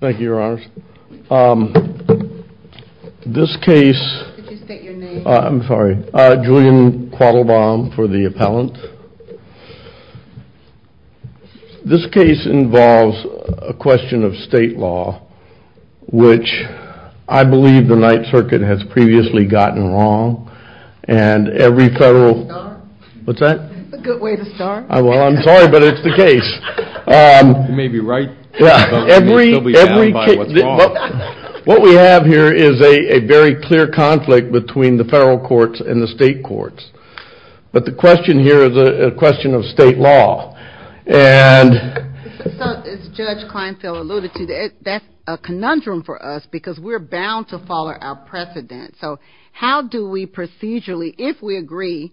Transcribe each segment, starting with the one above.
Thank you, Your Honors. This case... Could you state your name? I'm sorry. Julian Quattlebaum for the appellant. This case involves a question of state law, which I believe the Ninth Circuit has previously gotten wrong, and every federal... A good way to start. What's that? A good way to start. Well, I'm sorry, but it's the case. You may be right, but you'll be bound by what's wrong. What we have here is a very clear conflict between the federal courts and the state courts. But the question here is a question of state law, and... As Judge Kleinfeld alluded to, that's a conundrum for us because we're bound to follow our precedent. So how do we procedurally, if we agree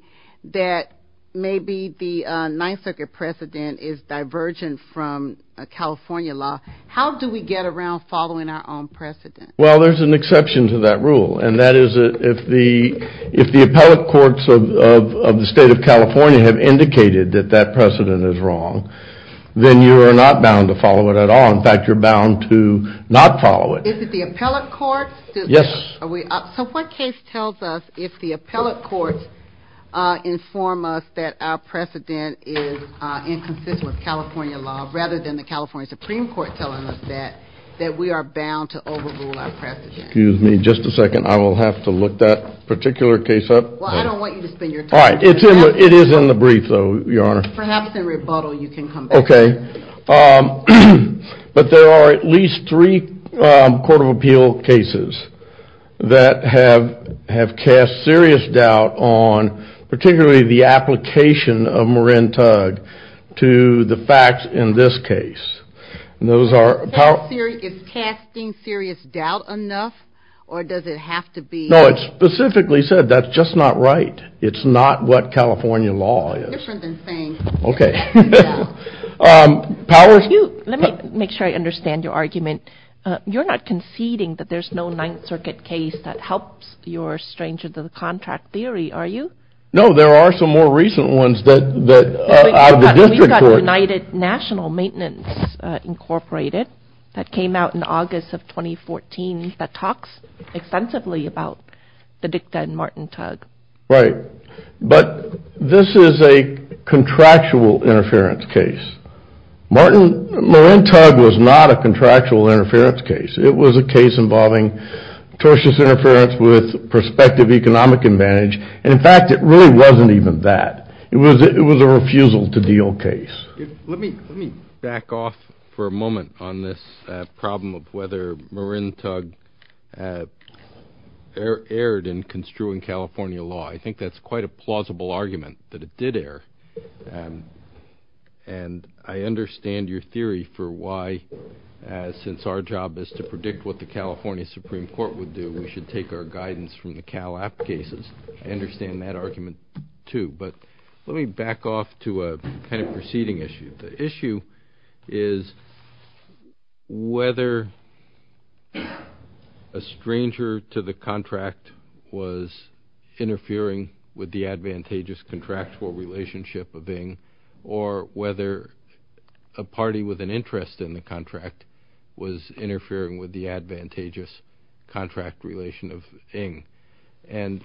that maybe the Ninth Circuit precedent is divergent from California law, how do we get around following our own precedent? Well, there's an exception to that rule, and that is if the appellate courts of the state of California have indicated that that precedent is wrong, then you are not bound to follow it at all. In fact, you're bound to not follow it. Is it the appellate courts? Yes. So what case tells us if the appellate courts inform us that our precedent is inconsistent with California law, rather than the California Supreme Court telling us that, that we are bound to overrule our precedent? Excuse me just a second. I will have to look that particular case up. Well, I don't want you to spend your time. It is in the brief, though, Your Honor. Perhaps in rebuttal you can come back. Okay. But there are at least three Court of Appeal cases that have cast serious doubt on particularly the application of Marin Tug to the facts in this case. Is casting serious doubt enough, or does it have to be? No, it specifically said that's just not right. It's not what California law is. Okay. Let me make sure I understand your argument. You're not conceding that there's no Ninth Circuit case that helps your Strangers of the Contract theory, are you? No, there are some more recent ones that are out of the district court. We've got United National Maintenance Incorporated that came out in August of 2014 that talks extensively about the dicta in Martin Tug. Right. But this is a contractual interference case. Marin Tug was not a contractual interference case. It was a case involving tortious interference with prospective economic advantage. And, in fact, it really wasn't even that. It was a refusal to deal case. Let me back off for a moment on this problem of whether Marin Tug erred in construing California law. I think that's quite a plausible argument, that it did err. And I understand your theory for why, since our job is to predict what the California Supreme Court would do, we should take our guidance from the CALAP cases. I understand that argument, too. But let me back off to a kind of proceeding issue. The issue is whether a stranger to the contract was interfering with the advantageous contractual relationship of Ing, or whether a party with an interest in the contract was interfering with the advantageous contract relation of Ing. And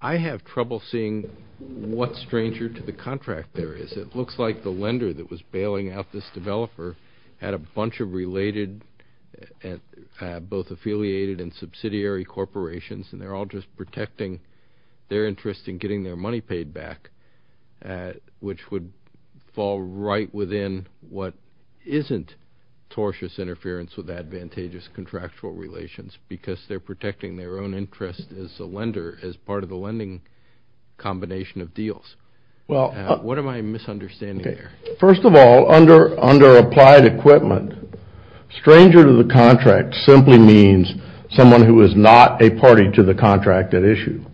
I have trouble seeing what stranger to the contract there is. It looks like the lender that was bailing out this developer had a bunch of related, both affiliated and subsidiary corporations, and they're all just protecting their interest in getting their money paid back, which would fall right within what isn't tortious interference with advantageous contractual relations, because they're protecting their own interest as a lender, as part of the lending combination of deals. What am I misunderstanding there? First of all, under applied equipment, stranger to the contract simply means someone who is not a party to the contract at issue.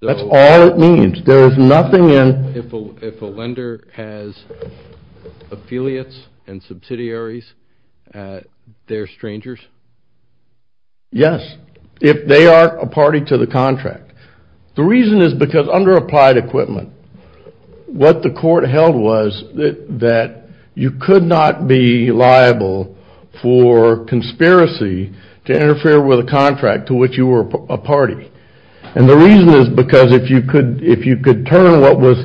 That's all it means. There is nothing in... If a lender has affiliates and subsidiaries, they're strangers? Yes, if they aren't a party to the contract. The reason is because under applied equipment, what the court held was that you could not be liable for conspiracy to interfere with a contract to which you were a party. And the reason is because if you could turn what was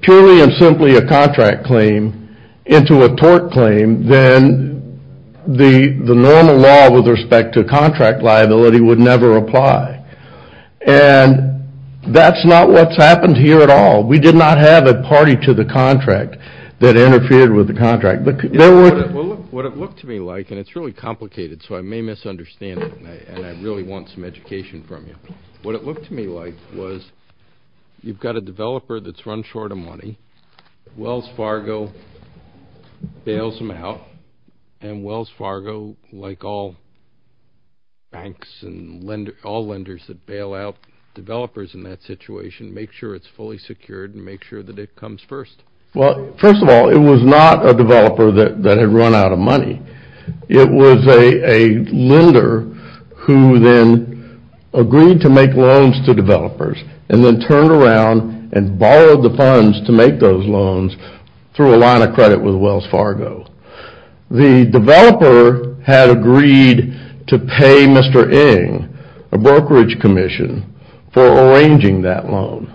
purely and simply a contract claim into a tort claim, then the normal law with respect to contract liability would never apply. And that's not what's happened here at all. We did not have a party to the contract that interfered with the contract. What it looked to me like, and it's really complicated, so I may misunderstand it, and I really want some education from you. What it looked to me like was you've got a developer that's run short of money, Wells Fargo bails him out, and Wells Fargo, like all banks and all lenders that bail out developers in that situation, makes sure it's fully secured and makes sure that it comes first. Well, first of all, it was not a developer that had run out of money. It was a lender who then agreed to make loans to developers and then turned around and borrowed the funds to make those loans through a line of credit with Wells Fargo. The developer had agreed to pay Mr. Ng, a brokerage commission, for arranging that loan.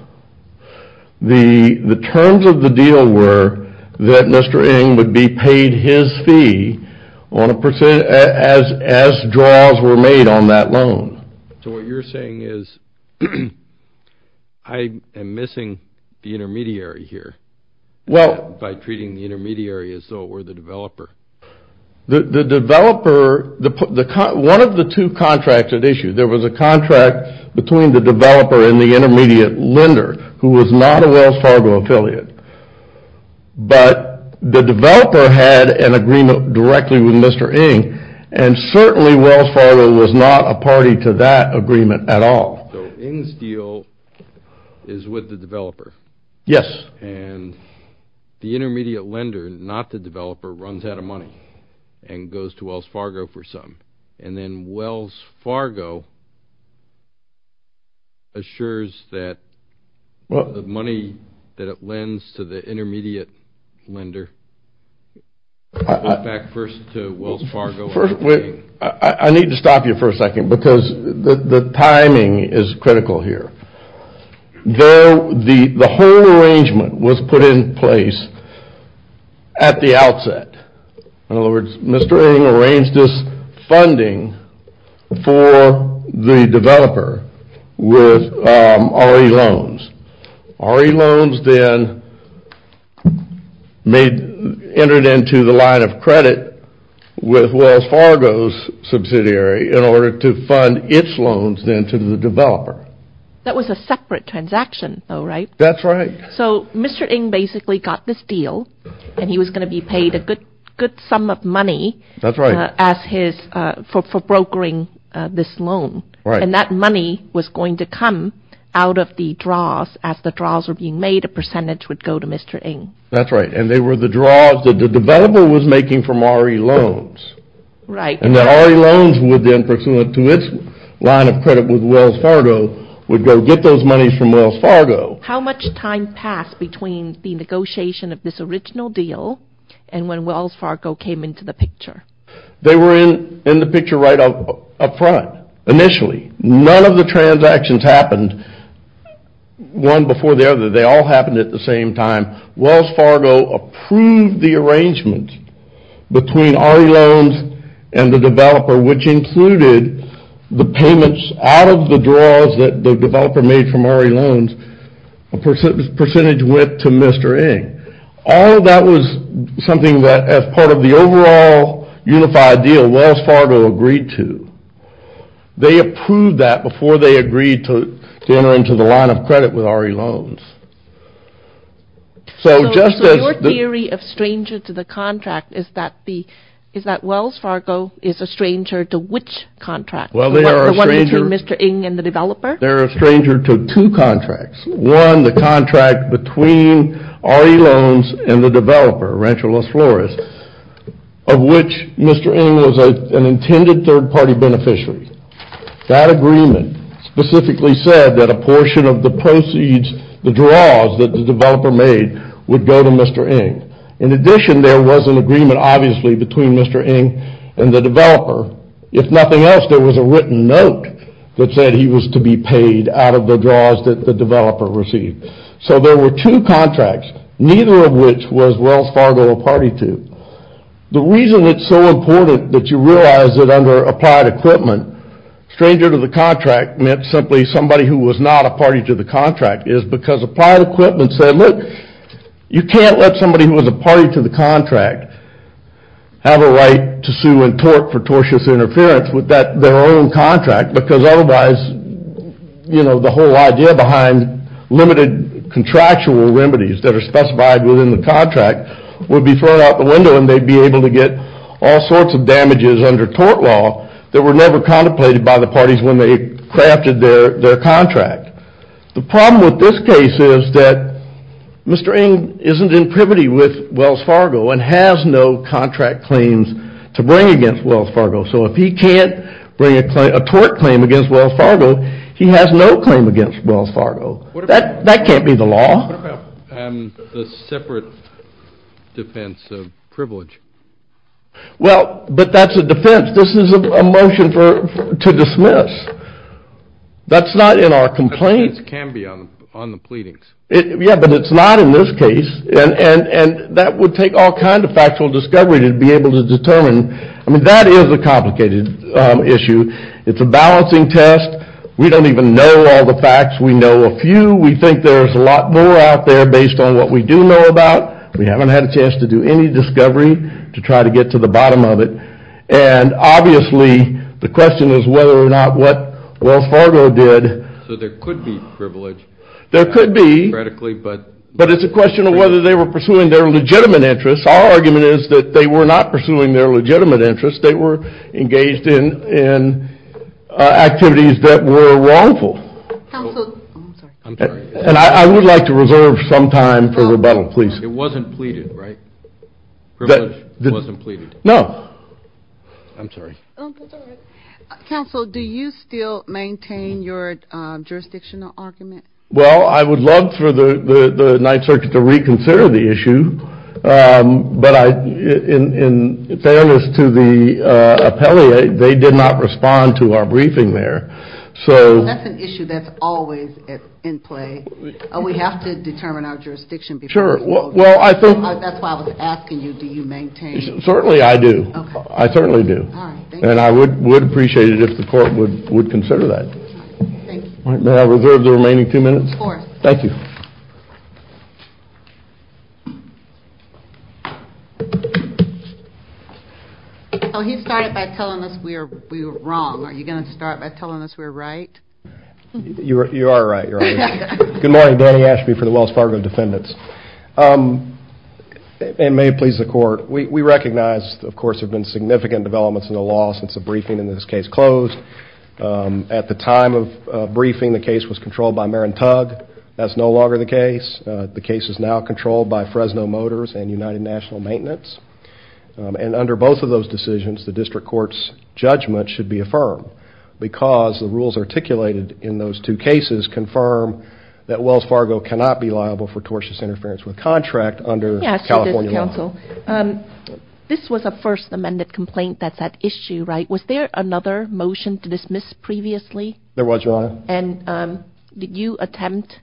The terms of the deal were that Mr. Ng would be paid his fee as draws were made on that loan. So what you're saying is I am missing the intermediary here by treating the intermediary as though it were the developer. The developer, one of the two contracts at issue, there was a contract between the developer and the intermediate lender, who was not a Wells Fargo affiliate. But the developer had an agreement directly with Mr. Ng, and certainly Wells Fargo was not a party to that agreement at all. So Ng's deal is with the developer? Yes. And the intermediate lender, not the developer, runs out of money and goes to Wells Fargo for some. And then Wells Fargo assures that the money that it lends to the intermediate lender goes back first to Wells Fargo. I need to stop you for a second because the timing is critical here. The whole arrangement was put in place at the outset. In other words, Mr. Ng arranged this funding for the developer with RE loans. RE loans then entered into the line of credit with Wells Fargo's subsidiary in order to fund its loans then to the developer. That was a separate transaction, though, right? That's right. So Mr. Ng basically got this deal, and he was going to be paid a good sum of money for brokering this loan. And that money was going to come out of the draws. As the draws were being made, a percentage would go to Mr. Ng. That's right. And they were the draws that the developer was making from RE loans. And the RE loans would then, pursuant to its line of credit with Wells Fargo, would go get those monies from Wells Fargo. How much time passed between the negotiation of this original deal and when Wells Fargo came into the picture? They were in the picture right up front initially. None of the transactions happened one before the other. They all happened at the same time. Wells Fargo approved the arrangement between RE loans and the developer, which included the payments out of the draws that the developer made from RE loans. A percentage went to Mr. Ng. All of that was something that, as part of the overall unified deal, Wells Fargo agreed to. They approved that before they agreed to enter into the line of credit with RE loans. So your theory of stranger to the contract is that Wells Fargo is a stranger to which contract? The one between Mr. Ng and the developer? They're a stranger to two contracts. One, the contract between RE loans and the developer, Rancho Los Flores, of which Mr. Ng was an intended third-party beneficiary. That agreement specifically said that a portion of the proceeds, the draws that the developer made, would go to Mr. Ng. In addition, there was an agreement, obviously, between Mr. Ng and the developer. If nothing else, there was a written note that said he was to be paid out of the draws that the developer received. So there were two contracts, neither of which was Wells Fargo a party to. The reason it's so important that you realize that under applied equipment, stranger to the contract meant simply somebody who was not a party to the contract, is because applied equipment said, look, you can't let somebody who was a party to the contract have a right to sue and tort for tortious interference with their own contract, because otherwise, you know, the whole idea behind limited contractual remedies that are specified within the contract would be thrown out the window and they'd be able to get all sorts of damages under tort law that were never contemplated by the parties when they crafted their contract. The problem with this case is that Mr. Ng isn't in privity with Wells Fargo and has no contract claims to bring against Wells Fargo. So if he can't bring a tort claim against Wells Fargo, he has no claim against Wells Fargo. That can't be the law. What about the separate defense of privilege? Well, but that's a defense. This is a motion to dismiss. That's not in our complaint. That can be on the pleadings. Yeah, but it's not in this case. And that would take all kinds of factual discovery to be able to determine. I mean, that is a complicated issue. It's a balancing test. We don't even know all the facts. We know a few. We think there's a lot more out there based on what we do know about. We haven't had a chance to do any discovery to try to get to the bottom of it. And obviously the question is whether or not what Wells Fargo did. So there could be privilege. There could be. Theoretically, but. But it's a question of whether they were pursuing their legitimate interests. Our argument is that they were not pursuing their legitimate interests. They were engaged in activities that were wrongful. Counsel, I'm sorry. And I would like to reserve some time for rebuttal, please. It wasn't pleaded, right? Privilege wasn't pleaded. No. I'm sorry. That's all right. Counsel, do you still maintain your jurisdictional argument? Well, I would love for the Ninth Circuit to reconsider the issue. But in fairness to the appellate, they did not respond to our briefing there. So. That's an issue that's always in play. We have to determine our jurisdiction. Sure. Well, I think. That's why I was asking you, do you maintain. Certainly I do. I certainly do. All right. Thank you. And I would appreciate it if the court would consider that. Thank you. All right. May I reserve the remaining two minutes? Of course. Thank you. So he started by telling us we were wrong. Are you going to start by telling us we're right? You are right. You're right. Good morning. Danny Ashby for the Wells Fargo Defendants. And may it please the court. We recognize, of course, there have been significant developments in the law since the briefing in this case closed. At the time of briefing, the case was controlled by Marin Tugg. That's no longer the case. The case is now controlled by Fresno Motors and United National Maintenance. And under both of those decisions, the district court's judgment should be affirmed. Because the rules articulated in those two cases confirm that Wells Fargo cannot be liable for tortious interference with contract under California law. Yes, it is, counsel. This was a first amended complaint that's at issue, right? Was there another motion to dismiss previously? There was, Your Honor. And did you attempt,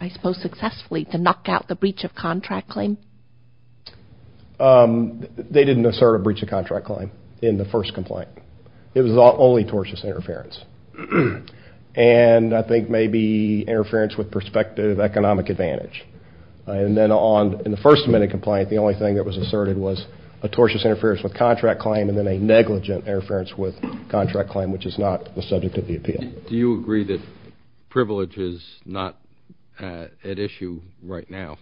I suppose successfully, to knock out the breach of contract claim? They didn't assert a breach of contract claim in the first complaint. It was only tortious interference. And I think maybe interference with prospective economic advantage. And then in the first amended complaint, the only thing that was asserted was a tortious interference with contract claim and then a negligent interference with contract claim, which is not the subject of the appeal. Do you agree that privilege is not at issue right now,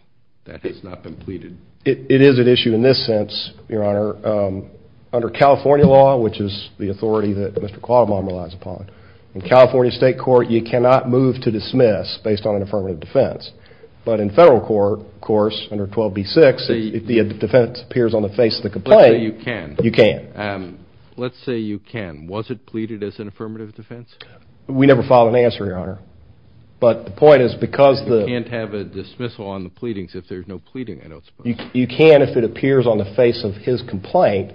that it's not been pleaded? It is at issue in this sense, Your Honor. Under California law, which is the authority that Mr. Quadamon relies upon, in California state court, you cannot move to dismiss based on an affirmative defense. But in federal court, of course, under 12b-6, if the defense appears on the face of the complaint, you can. Let's say you can. Let's say you can. Was it pleaded as an affirmative defense? We never filed an answer, Your Honor. But the point is because the You can't have a dismissal on the pleadings if there's no pleading, I don't suppose. You can if it appears on the face of his complaint.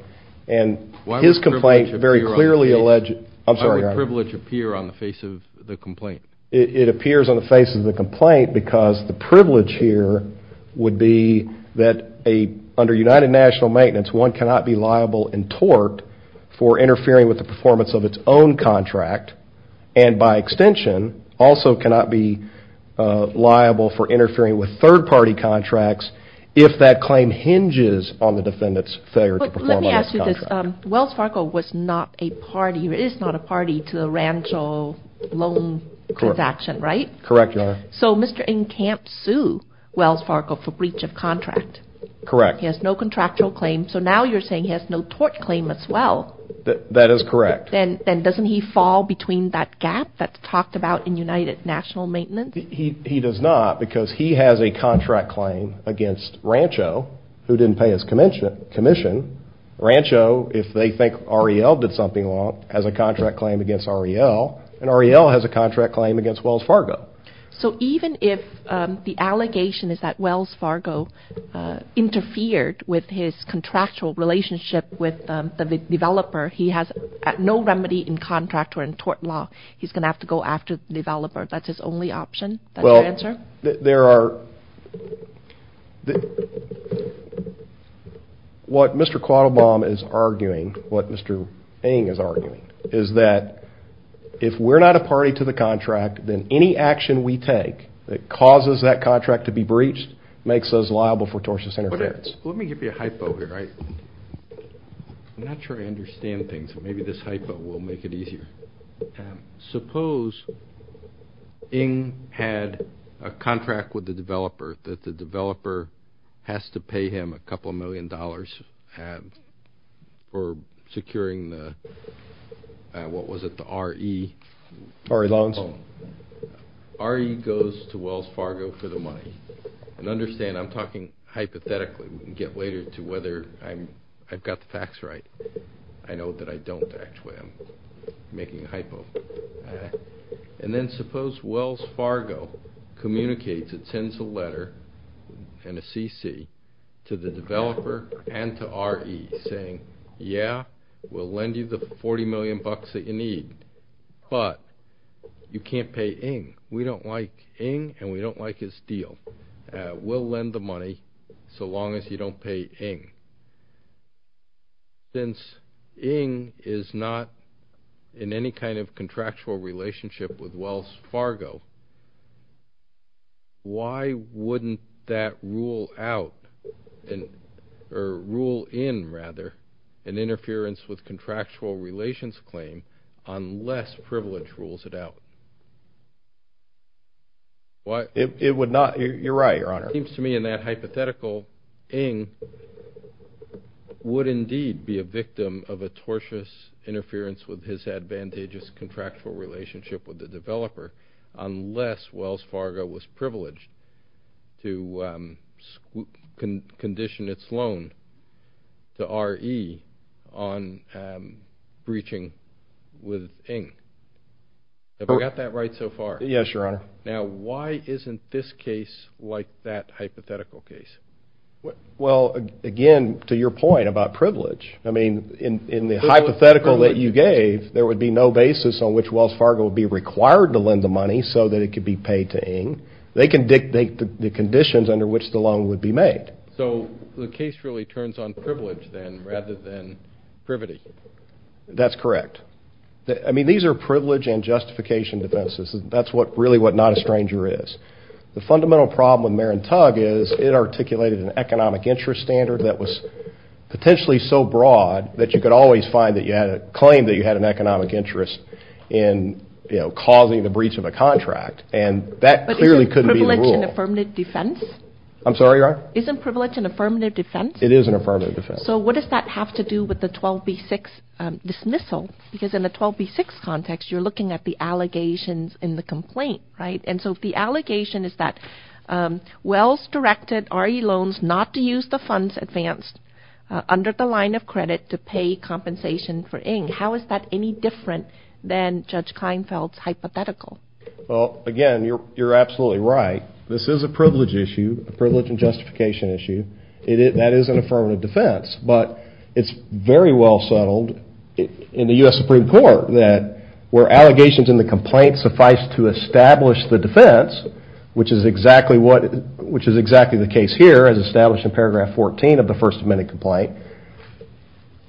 And his complaint very clearly alleged I'm sorry, Your Honor. Why would privilege appear on the face of the complaint? It appears on the face of the complaint because the privilege here would be that under United National Maintenance, one cannot be liable in tort for interfering with the performance of its own contract and by extension also cannot be liable for interfering with third-party contracts if that claim hinges on the defendant's failure to perform a contract. Wells Fargo was not a party or is not a party to the Rancho loan transaction, right? Correct, Your Honor. So Mr. Encamp sued Wells Fargo for breach of contract. Correct. He has no contractual claim. So now you're saying he has no tort claim as well. That is correct. Then doesn't he fall between that gap that's talked about in United National Maintenance? He does not because he has a contract claim against Rancho who didn't pay his commission. Rancho, if they think REL did something wrong, has a contract claim against REL and REL has a contract claim against Wells Fargo. So even if the allegation is that Wells Fargo interfered with his contractual relationship with the developer, he has no remedy in contract or in tort law. He's going to have to go after the developer. That's his only option? That's your answer? What Mr. Quattlebaum is arguing, what Mr. Ng is arguing, is that if we're not a party to the contract, then any action we take that causes that contract to be breached makes us liable for tortious interference. Let me give you a hypo here. I'm not sure I understand things, so maybe this hypo will make it easier. Suppose Ng had a contract with the developer that the developer has to pay him a couple million dollars for securing the, what was it, the RE? RE loans. RE goes to Wells Fargo for the money. And understand, I'm talking hypothetically. We can get later to whether I've got the facts right. I know that I don't, actually. I'm making a hypo. And then suppose Wells Fargo communicates and sends a letter and a CC to the developer and to RE, saying, yeah, we'll lend you the 40 million bucks that you need, but you can't pay Ng. We don't like Ng, and we don't like his deal. We'll lend the money so long as you don't pay Ng. Since Ng is not in any kind of contractual relationship with Wells Fargo, why wouldn't that rule out, or rule in, rather, an interference with contractual relations claim unless privilege rules it out? It would not. You're right, Your Honor. It seems to me in that hypothetical, Ng would indeed be a victim of a tortious interference with his advantageous contractual relationship with the developer unless Wells Fargo was privileged to condition its loan to RE on breaching with Ng. Have I got that right so far? Yes, Your Honor. Now, why isn't this case like that hypothetical case? Well, again, to your point about privilege, I mean, in the hypothetical that you gave, there would be no basis on which Wells Fargo would be required to lend the money so that it could be paid to Ng. They can dictate the conditions under which the loan would be made. So the case really turns on privilege, then, rather than privity. That's correct. I mean, these are privilege and justification defenses. That's really what not a stranger is. The fundamental problem with Marin Tug is it articulated an economic interest standard that was potentially so broad that you could always find that you had a claim that you had an economic interest in causing the breach of a contract, and that clearly couldn't be the rule. But isn't privilege an affirmative defense? I'm sorry, Your Honor? Isn't privilege an affirmative defense? It is an affirmative defense. So what does that have to do with the 12B6 dismissal? Because in the 12B6 context, you're looking at the allegations in the complaint, right? And so the allegation is that Wells directed RE loans not to use the funds advanced under the line of credit to pay compensation for Ng. How is that any different than Judge Klinefeld's hypothetical? Well, again, you're absolutely right. This is a privilege issue, a privilege and justification issue. That is an affirmative defense. But it's very well settled in the U.S. Supreme Court that where allegations in the complaint suffice to establish the defense, which is exactly the case here as established in paragraph 14 of the First Amendment complaint,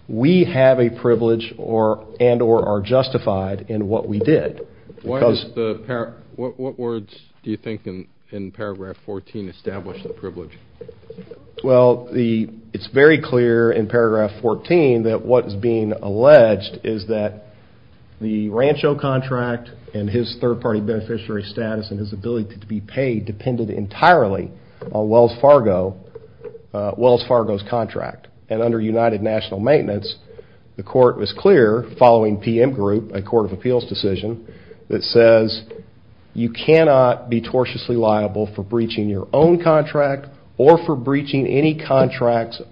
we have a privilege and or are justified in what we did. What words do you think in paragraph 14 establish the privilege? Well, it's very clear in paragraph 14 that what is being alleged is that the Rancho contract and his third-party beneficiary status and his ability to be paid depended entirely on Wells Fargo's contract. And under United National Maintenance, the court was clear following PM Group, a court of appeals decision, that says you cannot be tortiously liable for breaching your own contract or for breaching any contracts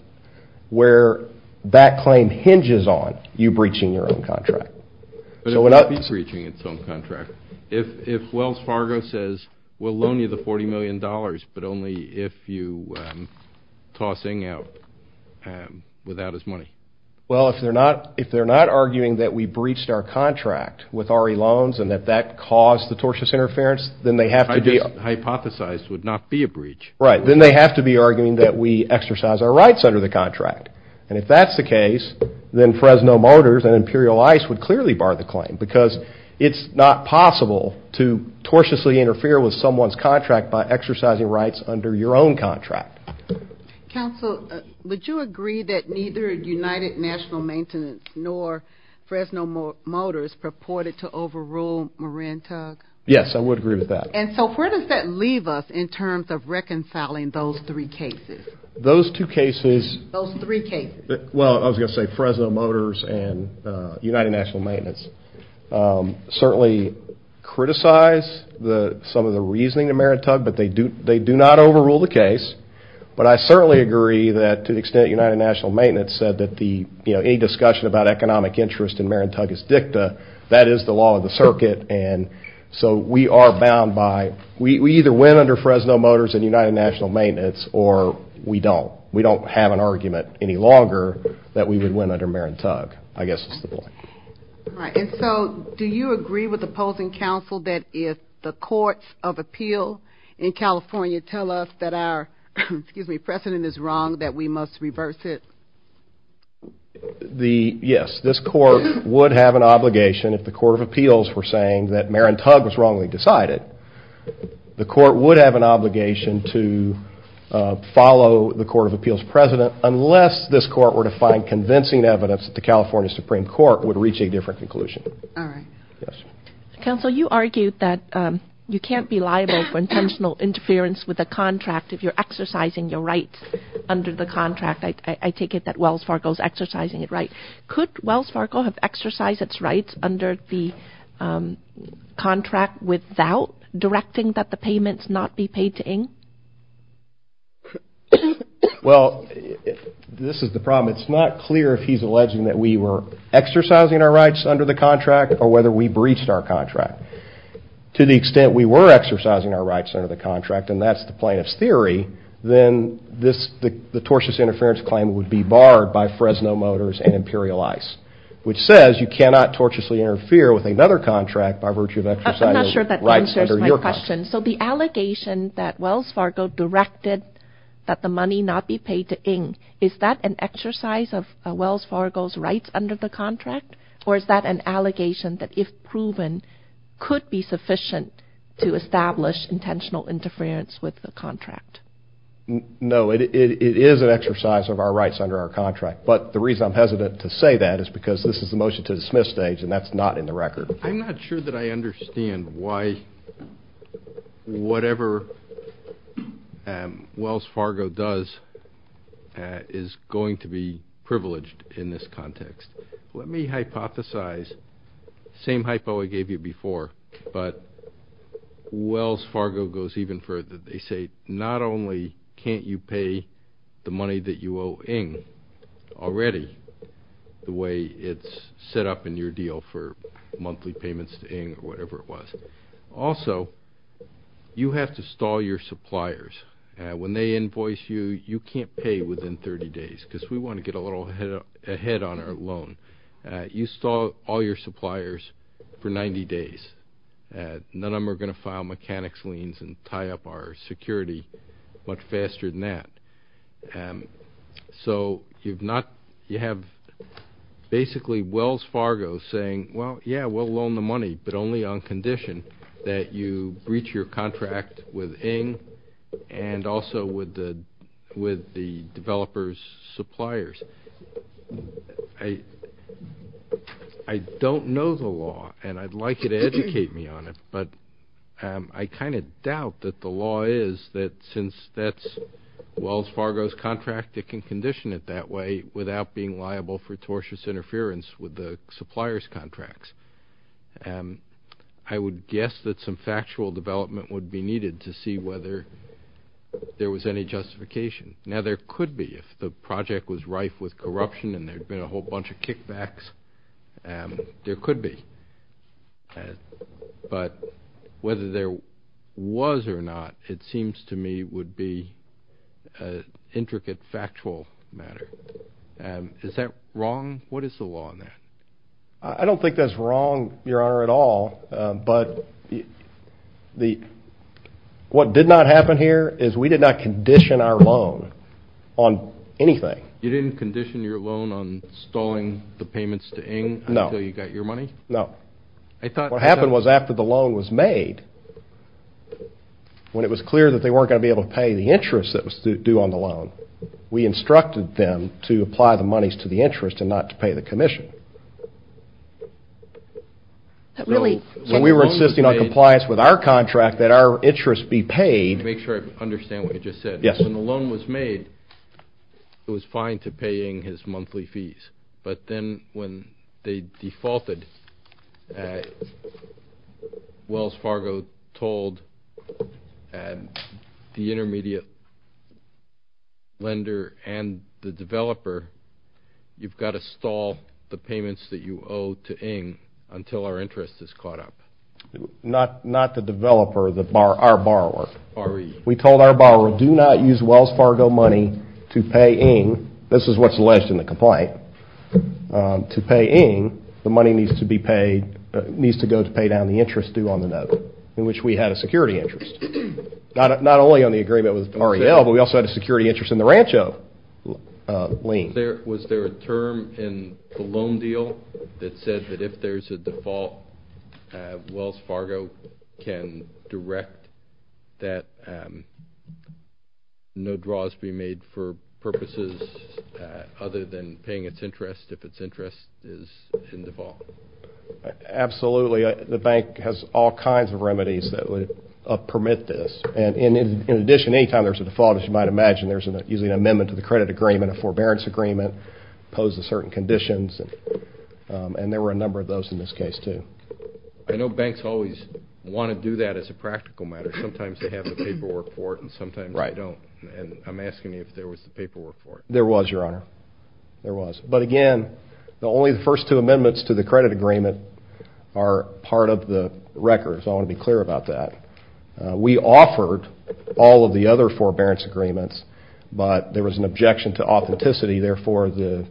where that claim hinges on you breaching your own contract. But it won't be breaching its own contract. If Wells Fargo says, we'll loan you the $40 million, but only if you toss Ng out without his money. Well, if they're not arguing that we breached our contract with RE loans and that that caused the tortious interference, then they have to be. Hypothesized would not be a breach. Right. Then they have to be arguing that we exercise our rights under the contract. And if that's the case, then Fresno Motors and Imperial Ice would clearly bar the claim because it's not possible to tortiously interfere with someone's contract by exercising rights under your own contract. Counsel, would you agree that neither United National Maintenance nor Fresno Motors purported to overrule Marantug? Yes, I would agree with that. And so where does that leave us in terms of reconciling those three cases? Those two cases. Those three cases. Well, I was going to say Fresno Motors and United National Maintenance certainly criticize some of the reasoning in Marantug, but they do not overrule the case. But I certainly agree that to the extent United National Maintenance said that any discussion about economic interest in Marantug is dicta, that is the law of the circuit. And so we are bound by we either win under Fresno Motors and United National Maintenance or we don't. We don't have an argument any longer that we would win under Marantug, I guess is the point. All right. And so do you agree with opposing counsel that if the courts of appeal in California tell us that our, excuse me, precedent is wrong, that we must reverse it? Yes. This court would have an obligation if the court of appeals were saying that Marantug was wrongly decided. The court would have an obligation to follow the court of appeals president unless this court were to find convincing evidence that the California Supreme Court would reach a different conclusion. All right. Yes. Counsel, you argued that you can't be liable for intentional interference with a contract if you're exercising your rights under the contract. I take it that Wells Fargo is exercising it right. Could Wells Fargo have exercised its rights under the contract without directing that the payments not be paid to Ing? Well, this is the problem. It's not clear if he's alleging that we were exercising our rights under the contract or whether we breached our contract. To the extent we were exercising our rights under the contract, and that's the plaintiff's theory, then the tortious interference claim would be barred by Fresno Motors and Imperial Ice, which says you cannot tortiously interfere with another contract by virtue of exercising rights under your contract. I'm not sure that answers my question. So the allegation that Wells Fargo directed that the money not be paid to Ing, is that an exercise of Wells Fargo's rights under the contract, or is that an allegation that, if proven, could be sufficient to establish intentional interference with the contract? No, it is an exercise of our rights under our contract, but the reason I'm hesitant to say that is because this is the motion to dismiss stage, and that's not in the record. I'm not sure that I understand why whatever Wells Fargo does is going to be privileged in this context. Let me hypothesize. Same hypo I gave you before, but Wells Fargo goes even further. They say not only can't you pay the money that you owe Ing already, the way it's set up in your deal for monthly payments to Ing or whatever it was, also you have to stall your suppliers. When they invoice you, you can't pay within 30 days, because we want to get a little ahead on our loan. You stall all your suppliers for 90 days. None of them are going to file mechanics liens and tie up our security much faster than that. So you have basically Wells Fargo saying, well, yeah, we'll loan the money, but only on condition that you breach your contract with Ing and also with the developer's suppliers. I don't know the law, and I'd like you to educate me on it, but I kind of doubt that the law is that since that's Wells Fargo's contract, it can condition it that way without being liable for tortious interference with the supplier's contracts. I would guess that some factual development would be needed to see whether there was any justification. Now, there could be if the project was rife with corruption and there had been a whole bunch of kickbacks. There could be. But whether there was or not, it seems to me would be an intricate, factual matter. Is that wrong? What is the law on that? I don't think that's wrong, Your Honor, at all, but what did not happen here is we did not condition our loan on anything. You didn't condition your loan on stalling the payments to Ing until you got your money? No. What happened was after the loan was made, when it was clear that they weren't going to be able to pay the interest that was due on the loan, we instructed them to apply the monies to the interest and not to pay the commission. When we were insisting on compliance with our contract, that our interest be paid. Let me make sure I understand what you just said. Yes. When the loan was made, it was fine to pay Ing his monthly fees, but then when they defaulted, Wells Fargo told the intermediate lender and the developer, you've got to stall the payments that you owe to Ing until our interest is caught up. Not the developer, our borrower. We told our borrower, do not use Wells Fargo money to pay Ing. This is what's alleged in the complaint. To pay Ing, the money needs to go to pay down the interest due on the note, in which we had a security interest. Not only on the agreement with REL, but we also had a security interest in the Rancho lien. Was there a term in the loan deal that said that if there's a default, Wells Fargo can direct that no draws be made for purposes other than paying its interest if its interest is in default? Absolutely. The bank has all kinds of remedies that would permit this. And in addition, any time there's a default, as you might imagine, there's usually an amendment to the credit agreement, a forbearance agreement, impose the certain conditions, and there were a number of those in this case, too. I know banks always want to do that as a practical matter. Sometimes they have the paperwork for it and sometimes they don't. And I'm asking you if there was the paperwork for it. There was, Your Honor. There was. But again, only the first two amendments to the credit agreement are part of the record, so I want to be clear about that. We offered all of the other forbearance agreements, but there was an objection to authenticity, therefore the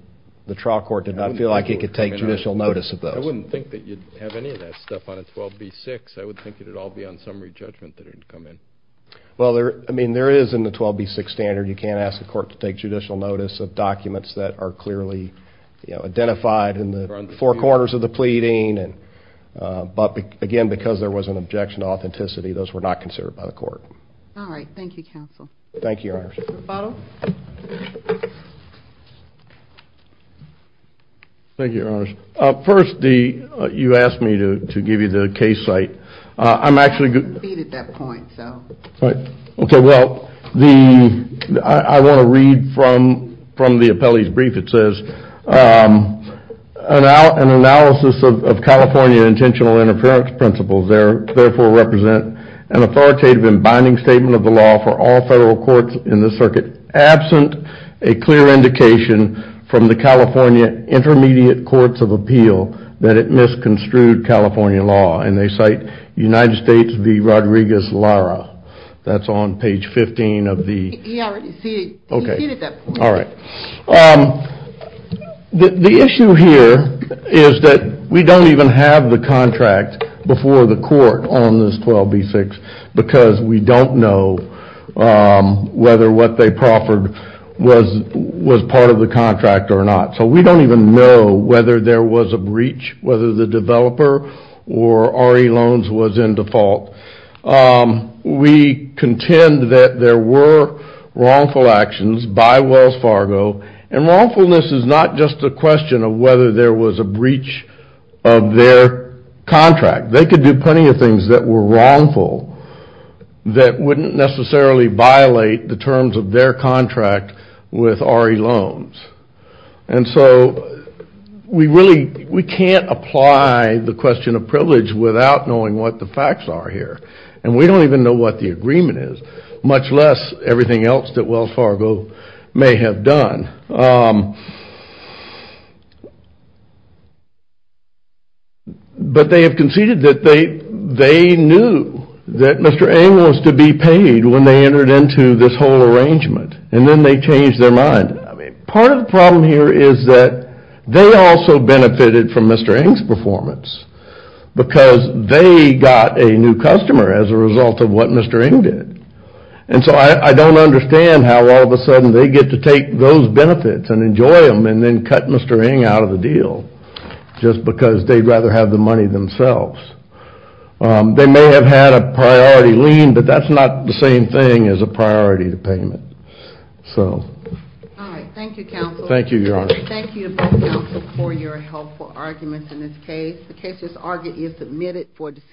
trial court did not feel like it could take judicial notice of those. I wouldn't think that you'd have any of that stuff on a 12B-6. I would think it would all be on summary judgment that it would come in. Well, I mean, there is in the 12B-6 standard you can't ask the court to take judicial notice of documents that are clearly identified in the four corners of the pleading. But again, because there was an objection to authenticity, those were not considered by the court. Thank you, counsel. Thank you, Your Honor. Mr. Butler? Thank you, Your Honor. First, you asked me to give you the case site. I'm actually going to... I didn't complete at that point, so... Okay, well, I want to read from the appellee's brief. It says, An analysis of California intentional interference principles therefore represent an authoritative and binding statement of the law for all federal courts in the circuit, absent a clear indication from the California Intermediate Courts of Appeal that it misconstrued California law. And they cite United States v. Rodriguez-Lara. That's on page 15 of the... He already ceded. Okay. He ceded that point. All right. The issue here is that we don't even have the contract before the court on this 12B-6 because we don't know whether what they proffered was part of the contract or not. So we don't even know whether there was a breach, whether the developer or RE Loans was in default. We contend that there were wrongful actions by Wells Fargo, and wrongfulness is not just a question of whether there was a breach of their contract. They could do plenty of things that were wrongful that wouldn't necessarily violate the terms of their contract with RE Loans. And so we can't apply the question of privilege without knowing what the facts are here. And we don't even know what the agreement is, much less everything else that Wells Fargo may have done. But they have conceded that they knew that Mr. Eng was to be paid when they entered into this whole arrangement, and then they changed their mind. Part of the problem here is that they also benefited from Mr. Eng's performance because they got a new customer as a result of what Mr. Eng did. And so I don't understand how all of a sudden they get to take those benefits and enjoy them and then cut Mr. Eng out of the deal just because they'd rather have the money themselves. They may have had a priority lien, but that's not the same thing as a priority payment. Thank you, counsel. Thank you, Your Honor. Thank you to both counsel for your helpful arguments in this case. The case is submitted for decision.